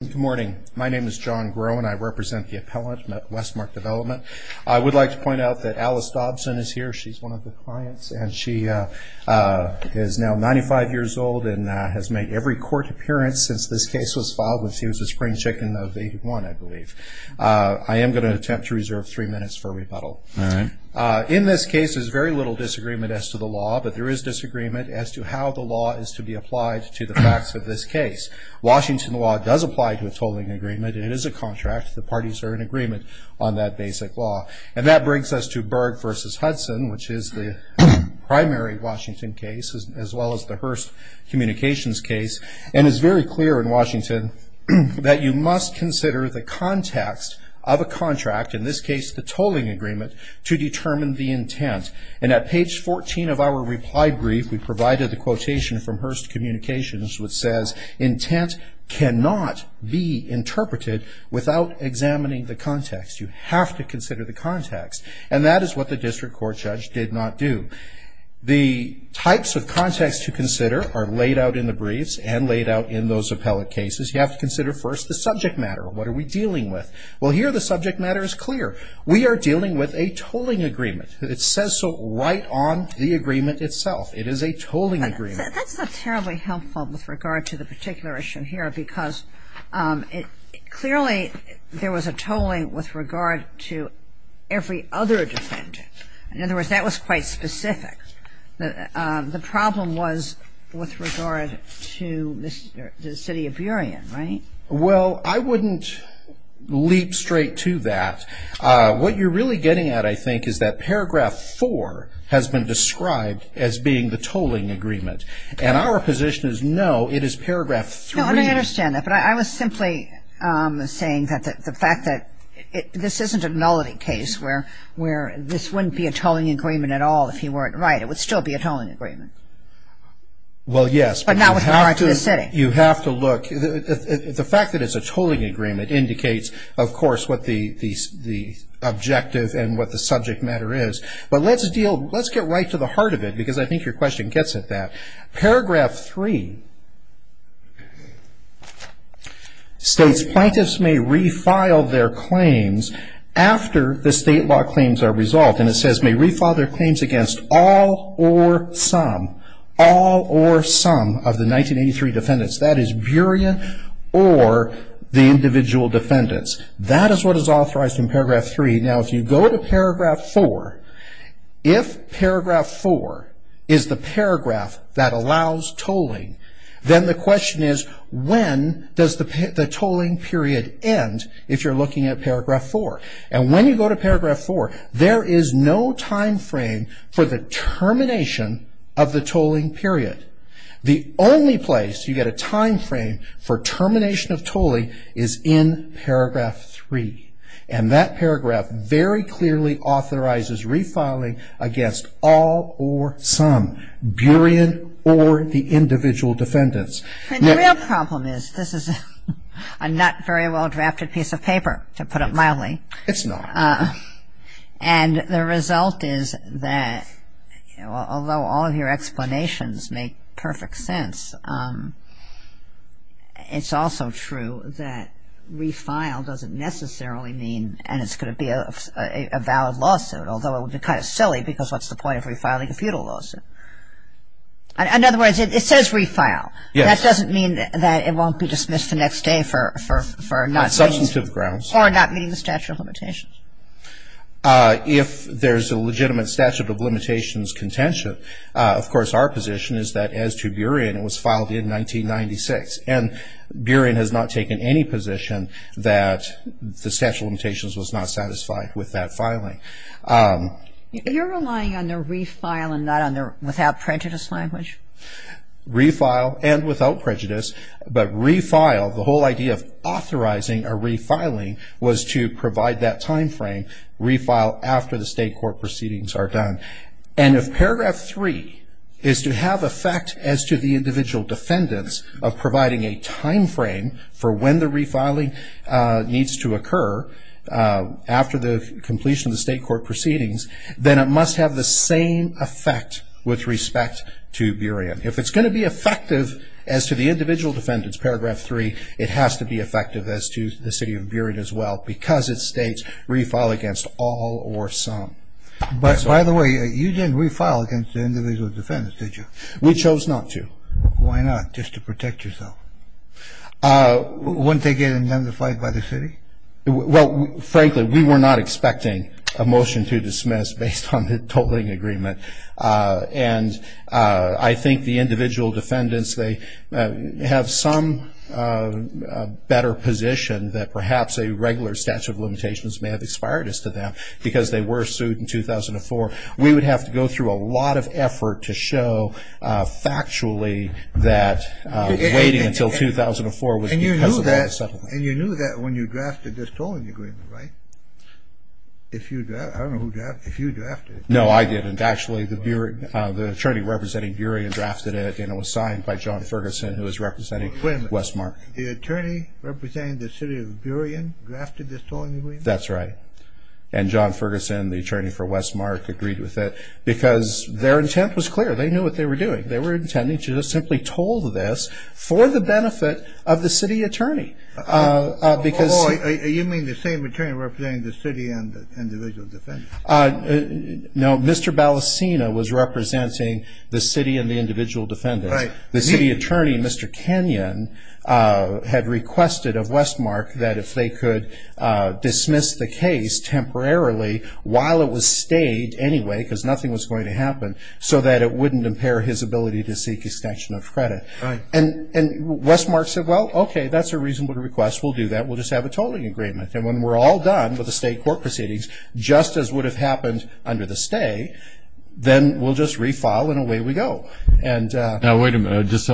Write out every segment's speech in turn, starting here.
Good morning. My name is John Groh and I represent the appellant at Westmark Development. I would like to point out that Alice Dobson is here. She's one of the clients and she is now 95 years old and has made every court appearance since this case was filed when she was a spring chicken of 81, I believe. I am going to attempt to reserve three minutes for rebuttal. All right. In this case, there's very little disagreement as to the law, but there is disagreement as to how the law is to be applied to the facts of this case. Washington law does apply to a tolling agreement. It is a contract. The parties are in agreement on that basic law. And that brings us to Berg v. Hudson, which is the primary Washington case as well as the Hearst Communications case. And it's very clear in Washington that you must consider the context of a contract, in this case the tolling agreement, to determine the intent. And at page 14 of our reply brief, we provided the quotation from Hearst Communications which says, intent cannot be interpreted without examining the context. You have to consider the context. And that is what the district court judge did not do. The types of context to consider are laid out in the briefs and laid out in those appellate cases. You have to consider first the subject matter. What are we dealing with? Well, here the subject matter is clear. We are dealing with a tolling agreement. It says so right on the agreement itself. It is a tolling agreement. That's not terribly helpful with regard to the particular issue here because clearly there was a tolling with regard to every other defendant. In other words, that was quite specific. The problem was with regard to the city of Burien, right? Well, I wouldn't leap straight to that. What you're really getting at, I think, is that paragraph 4 has been described as being the tolling agreement. And our position is no, it is paragraph 3. I understand that, but I was simply saying that the fact that this isn't a nullity case where this wouldn't be a tolling agreement at all if he weren't right. It would still be a tolling agreement. Well, yes. But not with regard to the city. You have to look. The fact that it's a tolling agreement indicates, of course, what the objective and what the subject matter is. But let's get right to the heart of it because I think your question gets at that. Paragraph 3 states plaintiffs may refile their claims after the state law claims are resolved. And it says may refile their claims against all or some, all or some of the 1983 defendants. That is Burien or the individual defendants. That is what is authorized in paragraph 3. Now, if you go to paragraph 4, if paragraph 4 is the paragraph that allows tolling, then the question is when does the tolling period end if you're looking at paragraph 4. And when you go to paragraph 4, there is no time frame for the termination of the tolling period. The only place you get a time frame for termination of tolling is in paragraph 3. And that paragraph very clearly authorizes refiling against all or some, Burien or the individual defendants. And the real problem is this is a not very well drafted piece of paper, to put it mildly. It's not. And the result is that although all of your explanations make perfect sense, it's also true that refile doesn't necessarily mean and it's going to be a valid lawsuit, although it would be kind of silly because what's the point of refiling a feudal lawsuit? In other words, it says refile. Yes. That doesn't mean that it won't be dismissed the next day for not meeting the statute of limitations. If there's a legitimate statute of limitations contention, of course our position is that as to Burien, it was filed in 1996. And Burien has not taken any position that the statute of limitations was not satisfied with that filing. You're relying on the refile and not on the without prejudice language? Refile and without prejudice. But refile, the whole idea of authorizing a refiling was to provide that timeframe, refile after the state court proceedings are done. And if paragraph three is to have effect as to the individual defendants of providing a timeframe for when the refiling needs to occur after the completion of the state court proceedings, then it must have the same effect with respect to Burien. If it's going to be effective as to the individual defendants, paragraph three, it has to be effective as to the city of Burien as well because it states refile against all or some. By the way, you didn't refile against the individual defendants, did you? We chose not to. Why not? Just to protect yourself. Wouldn't they get indemnified by the city? Well, frankly, we were not expecting a motion to dismiss based on the tolling agreement. And I think the individual defendants, they have some better position that perhaps a regular statute of limitations may have expired as to them because they were sued in 2004. We would have to go through a lot of effort to show factually that waiting until 2004 was because of that settlement. And you knew that when you drafted this tolling agreement, right? I don't know who drafted it. If you drafted it. No, I didn't. Actually, the attorney representing Burien drafted it, and it was signed by John Ferguson who was representing Westmark. Wait a minute. The attorney representing the city of Burien drafted this tolling agreement? That's right. And John Ferguson, the attorney for Westmark, agreed with it because their intent was clear. They knew what they were doing. They were intending to just simply toll this for the benefit of the city attorney. Oh, you mean the same attorney representing the city and the individual defendants? No, Mr. Balasina was representing the city and the individual defendants. Right. The city attorney, Mr. Kenyon, had requested of Westmark that if they could dismiss the case temporarily while it was stayed anyway because nothing was going to happen so that it wouldn't impair his ability to seek extension of credit. Right. And Westmark said, well, okay, that's a reasonable request. We'll do that. We'll just have a tolling agreement. And when we're all done with the state court proceedings, just as would have happened under the stay, then we'll just refile and away we go. Now, wait a minute.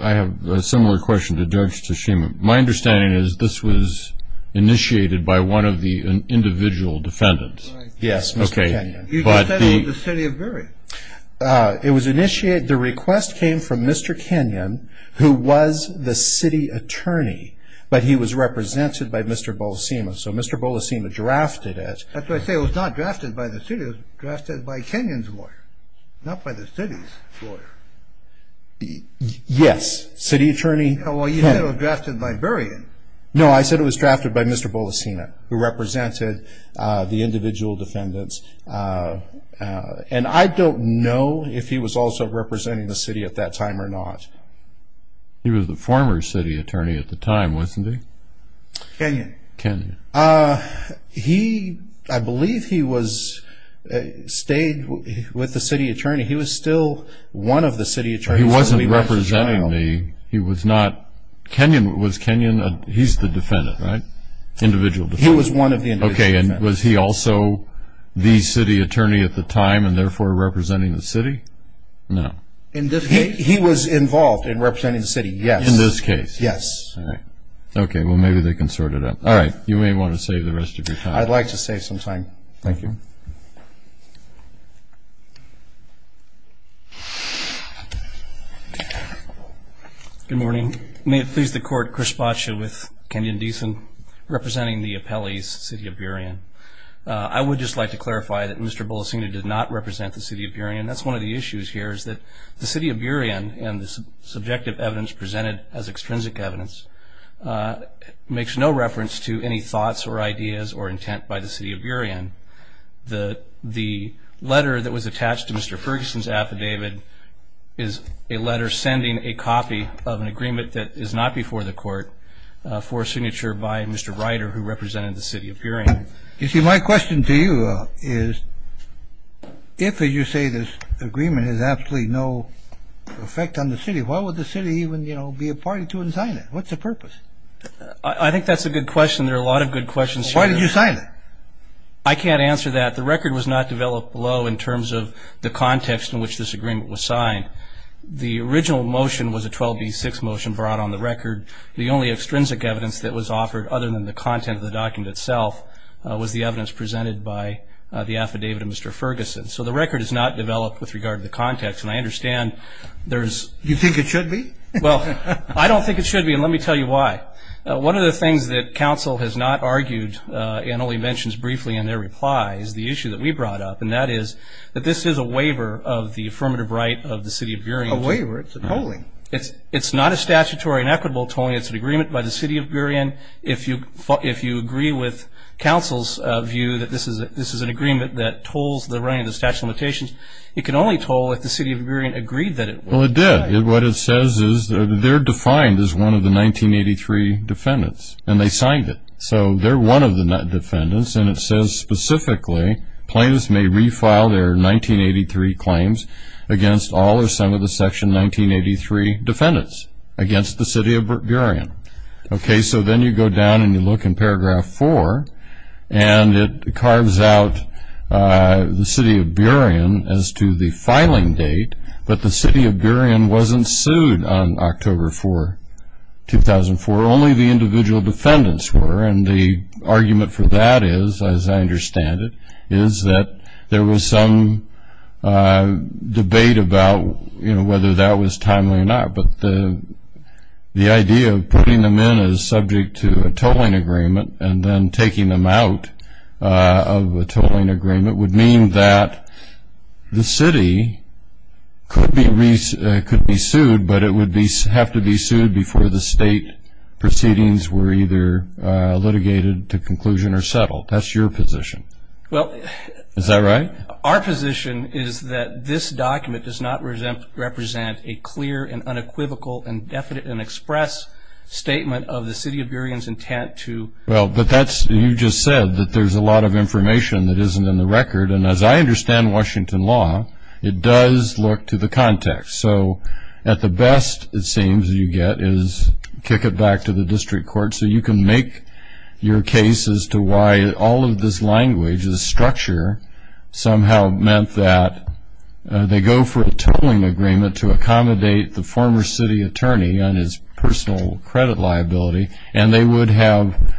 I have a similar question to Judge Tshima. My understanding is this was initiated by one of the individual defendants. Yes, Mr. Kenyon. You just said it was the city of Burien. It was initiated. The request came from Mr. Kenyon, who was the city attorney, but he was represented by Mr. Balasina. So Mr. Balasina drafted it. That's why I say it was not drafted by the city. It was drafted by Kenyon's lawyer, not by the city's lawyer. Yes, city attorney. Well, you said it was drafted by Burien. No, I said it was drafted by Mr. Balasina, who represented the individual defendants. And I don't know if he was also representing the city at that time or not. He was the former city attorney at the time, wasn't he? Kenyon. Kenyon. I believe he stayed with the city attorney. He was still one of the city attorneys. He wasn't representing me. He was not. Kenyon was Kenyon. He's the defendant, right? Individual defendant. He was one of the individual defendants. Okay, and was he also the city attorney at the time and therefore representing the city? No. He was involved in representing the city, yes. In this case? Yes. All right. Okay, well, maybe they can sort it out. All right, you may want to save the rest of your time. I'd like to save some time. Thank you. Good morning. May it please the Court, Chris Boccia with Kenyon Deason representing the appellees, City of Burien. I would just like to clarify that Mr. Bolasina did not represent the City of Burien. That's one of the issues here is that the City of Burien and the subjective evidence presented as extrinsic evidence makes no reference to any thoughts The letter that was attached to Mr. Ferguson's affidavit is a letter sending a copy of an agreement that is not before the Court for signature by Mr. Ryder, who represented the City of Burien. You see, my question to you is if, as you say, this agreement has absolutely no effect on the city, why would the city even, you know, be a party to it and sign it? What's the purpose? I think that's a good question. There are a lot of good questions here. Why would you sign it? I can't answer that. The record was not developed below in terms of the context in which this agreement was signed. The original motion was a 12B6 motion brought on the record. The only extrinsic evidence that was offered other than the content of the document itself was the evidence presented by the affidavit of Mr. Ferguson. So the record is not developed with regard to the context, and I understand there's You think it should be? Well, I don't think it should be, and let me tell you why. One of the things that counsel has not argued and only mentions briefly in their reply is the issue that we brought up, and that is that this is a waiver of the affirmative right of the City of Burien. A waiver? It's a tolling. It's not a statutory and equitable tolling. It's an agreement by the City of Burien. If you agree with counsel's view that this is an agreement that tolls the running of the statute of limitations, it can only toll if the City of Burien agreed that it would. Well, it did. What it says is they're defined as one of the 1983 defendants, and they signed it. So they're one of the defendants, and it says specifically plaintiffs may refile their 1983 claims against all or some of the Section 1983 defendants against the City of Burien. Okay, so then you go down and you look in paragraph 4, and it carves out the City of Burien as to the filing date, but the City of Burien wasn't sued on October 4, 2004. Only the individual defendants were, and the argument for that is, as I understand it, is that there was some debate about whether that was timely or not, but the idea of putting them in as subject to a tolling agreement and then taking them out of a tolling agreement would mean that the city could be sued, but it would have to be sued before the state proceedings were either litigated to conclusion or settled. That's your position. Well, our position is that this document does not represent a clear and unequivocal and definite and express statement of the City of Burien's intent to Well, but you just said that there's a lot of information that isn't in the record, and as I understand Washington law, it does look to the context. So at the best, it seems, you get is kick it back to the district court so you can make your case as to why all of this language, this structure, somehow meant that they go for a tolling agreement to accommodate the former city attorney on his personal credit liability and they would have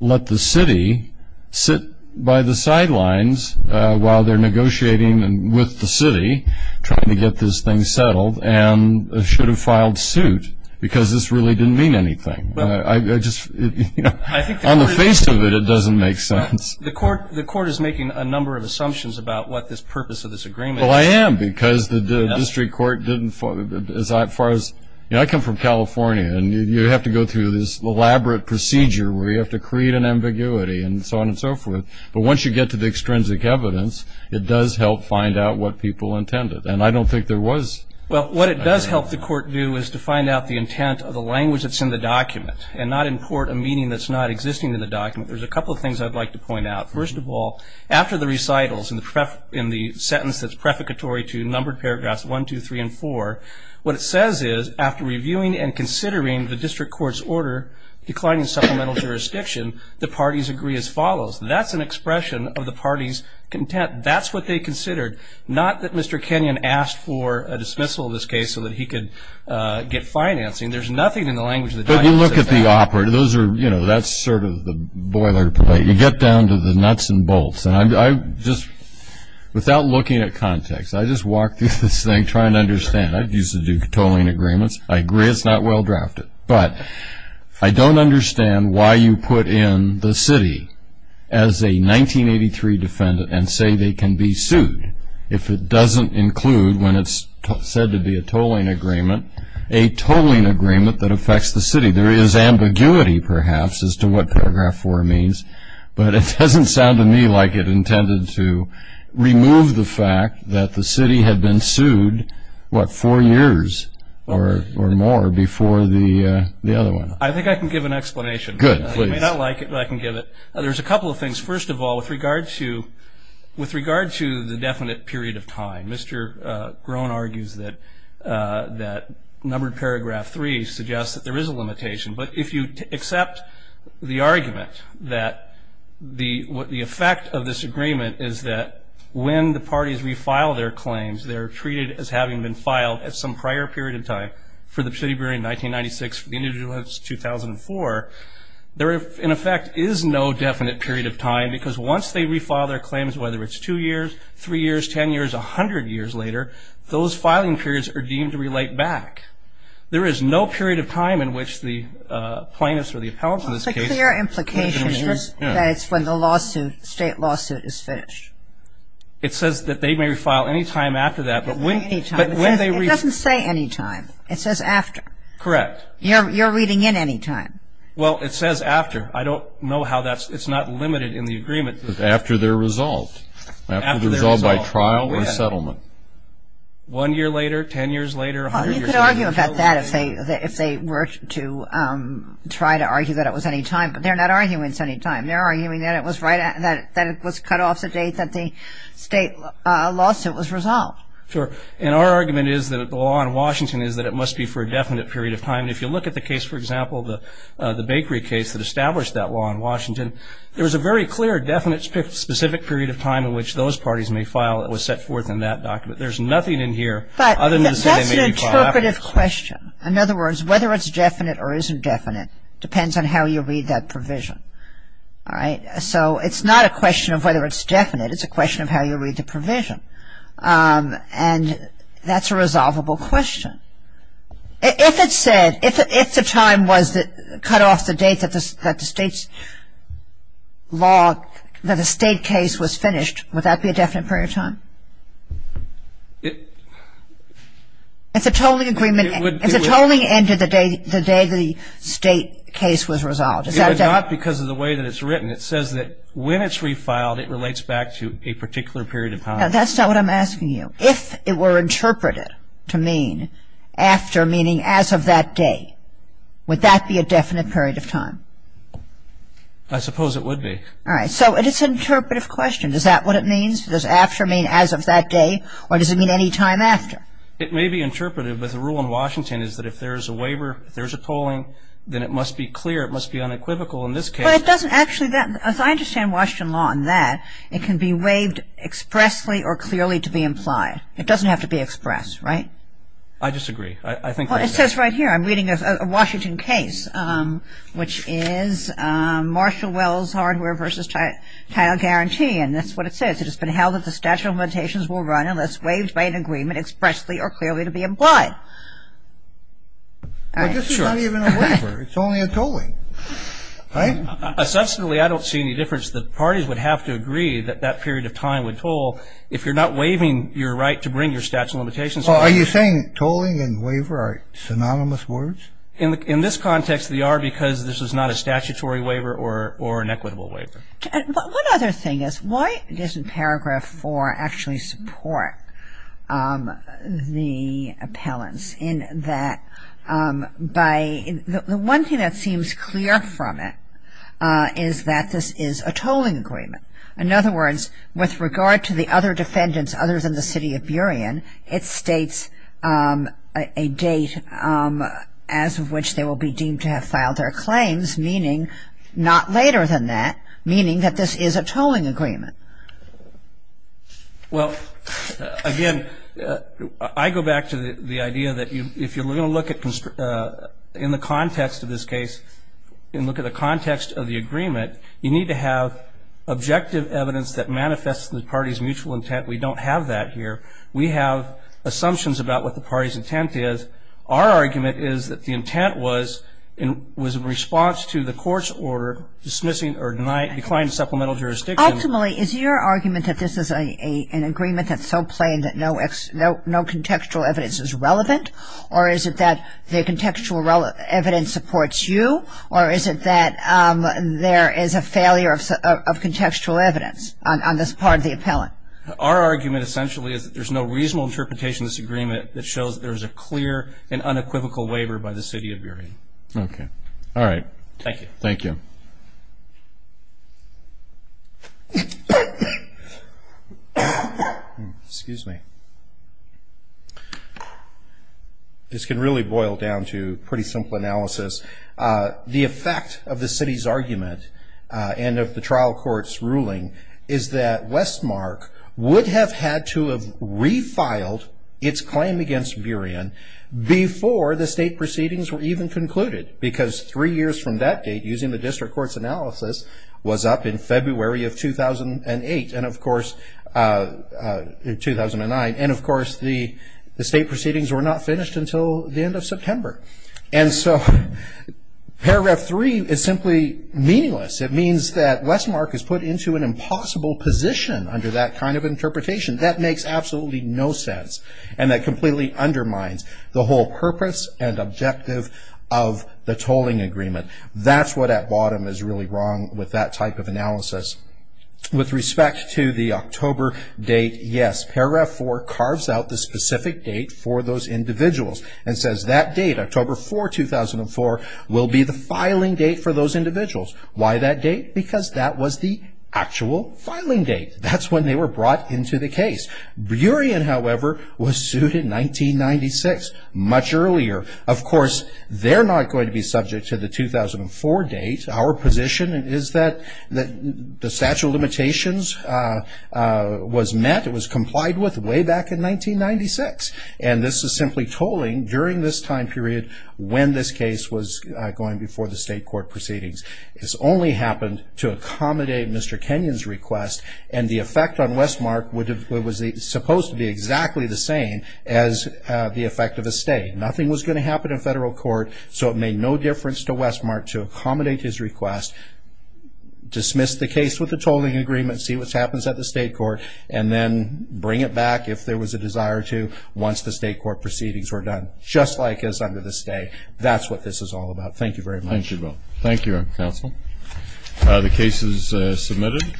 let the city sit by the sidelines while they're negotiating with the city trying to get this thing settled and should have filed suit because this really didn't mean anything. On the face of it, it doesn't make sense. The court is making a number of assumptions about what the purpose of this agreement is. Well, I am because the district court didn't, as far as I come from California, and you have to go through this elaborate procedure where you have to create an ambiguity and so on and so forth. But once you get to the extrinsic evidence, it does help find out what people intended. And I don't think there was Well, what it does help the court do is to find out the intent of the language that's in the document and not import a meaning that's not existing in the document. There's a couple of things I'd like to point out. First of all, after the recitals in the sentence that's prefiguratory to numbered paragraphs 1, 2, 3, and 4, what it says is after reviewing and considering the district court's order declining supplemental jurisdiction, the parties agree as follows. That's an expression of the parties' content. That's what they considered, not that Mr. Kenyon asked for a dismissal in this case so that he could get financing. There's nothing in the language of the document that says that. But you look at the operative. Those are, you know, that's sort of the boilerplate. You get down to the nuts and bolts. And I just, without looking at context, I just walked through this thing trying to understand. I used to do tolling agreements. I agree it's not well drafted. But I don't understand why you put in the city as a 1983 defendant and say they can be sued if it doesn't include, when it's said to be a tolling agreement, a tolling agreement that affects the city. There is ambiguity, perhaps, as to what paragraph 4 means. But it doesn't sound to me like it intended to remove the fact that the city had been sued, what, four years or more before the other one. I think I can give an explanation. Good. Please. You may not like it, but I can give it. There's a couple of things. First of all, with regard to the definite period of time, Mr. Groen argues that numbered paragraph 3 suggests that there is a limitation. But if you accept the argument that the effect of this agreement is that when the parties refile their claims, they're treated as having been filed at some prior period of time for the City Bureau in 1996, for the individual it's 2004, there, in effect, is no definite period of time. Because once they refile their claims, whether it's two years, three years, 10 years, 100 years later, those filing periods are deemed to relate back. There is no period of time in which the plaintiffs or the appellants in this case. The clear implication is that it's when the lawsuit, state lawsuit, is finished. It says that they may refile any time after that. Any time. It doesn't say any time. It says after. Correct. You're reading in any time. Well, it says after. I don't know how that's, it's not limited in the agreement. After they're resolved. After they're resolved by trial or settlement. One year later, 10 years later, 100 years later. You could argue about that if they were to try to argue that it was any time. But they're not arguing it's any time. They're arguing that it was cut off the date that the state lawsuit was resolved. Sure. And our argument is that the law in Washington is that it must be for a definite period of time. If you look at the case, for example, the bakery case that established that law in Washington, there was a very clear, definite, specific period of time in which those parties may file that was set forth in that document. There's nothing in here other than to say they may be filed after. But that's an interpretive question. In other words, whether it's definite or isn't definite depends on how you read that provision. All right? So it's not a question of whether it's definite. It's a question of how you read the provision. And that's a resolvable question. If it said, if the time was cut off the date that the state's law, that the state case was finished, would that be a definite period of time? It's a tolling agreement. It's a tolling end to the day the state case was resolved. Is that definite? It would not because of the way that it's written. It says that when it's refiled, it relates back to a particular period of time. Now, that's not what I'm asking you. If it were interpreted to mean after, meaning as of that day, would that be a definite period of time? I suppose it would be. All right. So it is an interpretive question. Is that what it means? Does after mean as of that day? Or does it mean any time after? It may be interpreted, but the rule in Washington is that if there's a waiver, if there's a tolling, then it must be clear, it must be unequivocal in this case. But it doesn't actually, as I understand Washington law in that, it can be waived expressly or clearly to be implied. It doesn't have to be expressed, right? I disagree. I think that's it. Well, it says right here, I'm reading a Washington case, which is Marshall Wells Hardware versus Title Guarantee. And that's what it says. It has been held that the statute of limitations will run unless waived by an agreement expressly or clearly to be implied. But this is not even a waiver. It's only a tolling, right? Substantively, I don't see any difference. The parties would have to agree that that period of time would toll if you're not waiving your right to bring your statute of limitations. Are you saying tolling and waiver are synonymous words? In this context, they are because this is not a statutory waiver or an equitable waiver. And one other thing is, why doesn't Paragraph 4 actually support the appellants in that by, the one thing that seems clear from it is that this is a tolling agreement. In other words, with regard to the other defendants other than the city of Burien, it states a date as of which they will be deemed to have filed their claims, meaning not later than that, meaning that this is a tolling agreement. Well, again, I go back to the idea that if you're going to look at, in the context of this case, and look at the context of the agreement, you need to have objective evidence that manifests in the party's mutual intent. We don't have that here. We have assumptions about what the party's intent is. Our argument is that the intent was in response to the court's order dismissing or declining supplemental jurisdiction. Ultimately, is your argument that this is an agreement that's so plain that no contextual evidence is relevant, or is it that the contextual evidence supports you, or is it that there is a failure of contextual evidence on this part of the appellant? Our argument, essentially, is that there's no reasonable interpretation of this agreement that shows that there's a clear and unequivocal waiver by the city of Burien. Okay. All right. Thank you. Thank you. Excuse me. This can really boil down to pretty simple analysis. The effect of the city's argument, and of the trial court's ruling, is that Westmark would have had to have refiled its claim against Burien before the state proceedings were even concluded, because three years from that date, using the district court's analysis, was up in February of 2008 and, of course, 2009, and, of course, the state proceedings were not finished until the end of September. And so Paragraph 3 is simply meaningless. It means that Westmark is put into an impossible position under that kind of interpretation. That makes absolutely no sense, and that completely undermines the whole purpose and objective of the tolling agreement. That's what at bottom is really wrong with that type of analysis. With respect to the October date, yes, Paragraph 4 carves out the specific date for those individuals and says that date, October 4, 2004, will be the filing date for those individuals. Why that date? Because that was the actual filing date. That's when they were brought into the case. Burien, however, was sued in 1996, much earlier. Of course, they're not going to be subject to the 2004 date. Our position is that the statute of limitations was met, it was complied with way back in 1996, and this is simply tolling during this time period when this case was going before the state court proceedings. This only happened to accommodate Mr. Kenyon's request, and the effect on Westmark was supposed to be exactly the same as the effect of a stay. Nothing was going to happen in federal court, so it made no difference to Westmark to accommodate his request, dismiss the case with the tolling agreement, see what happens at the state court, and then bring it back if there was a desire to once the state court proceedings were done. Just like as under the stay, that's what this is all about. Thank you very much. Thank you, Bill. Thank you, counsel. The case is submitted.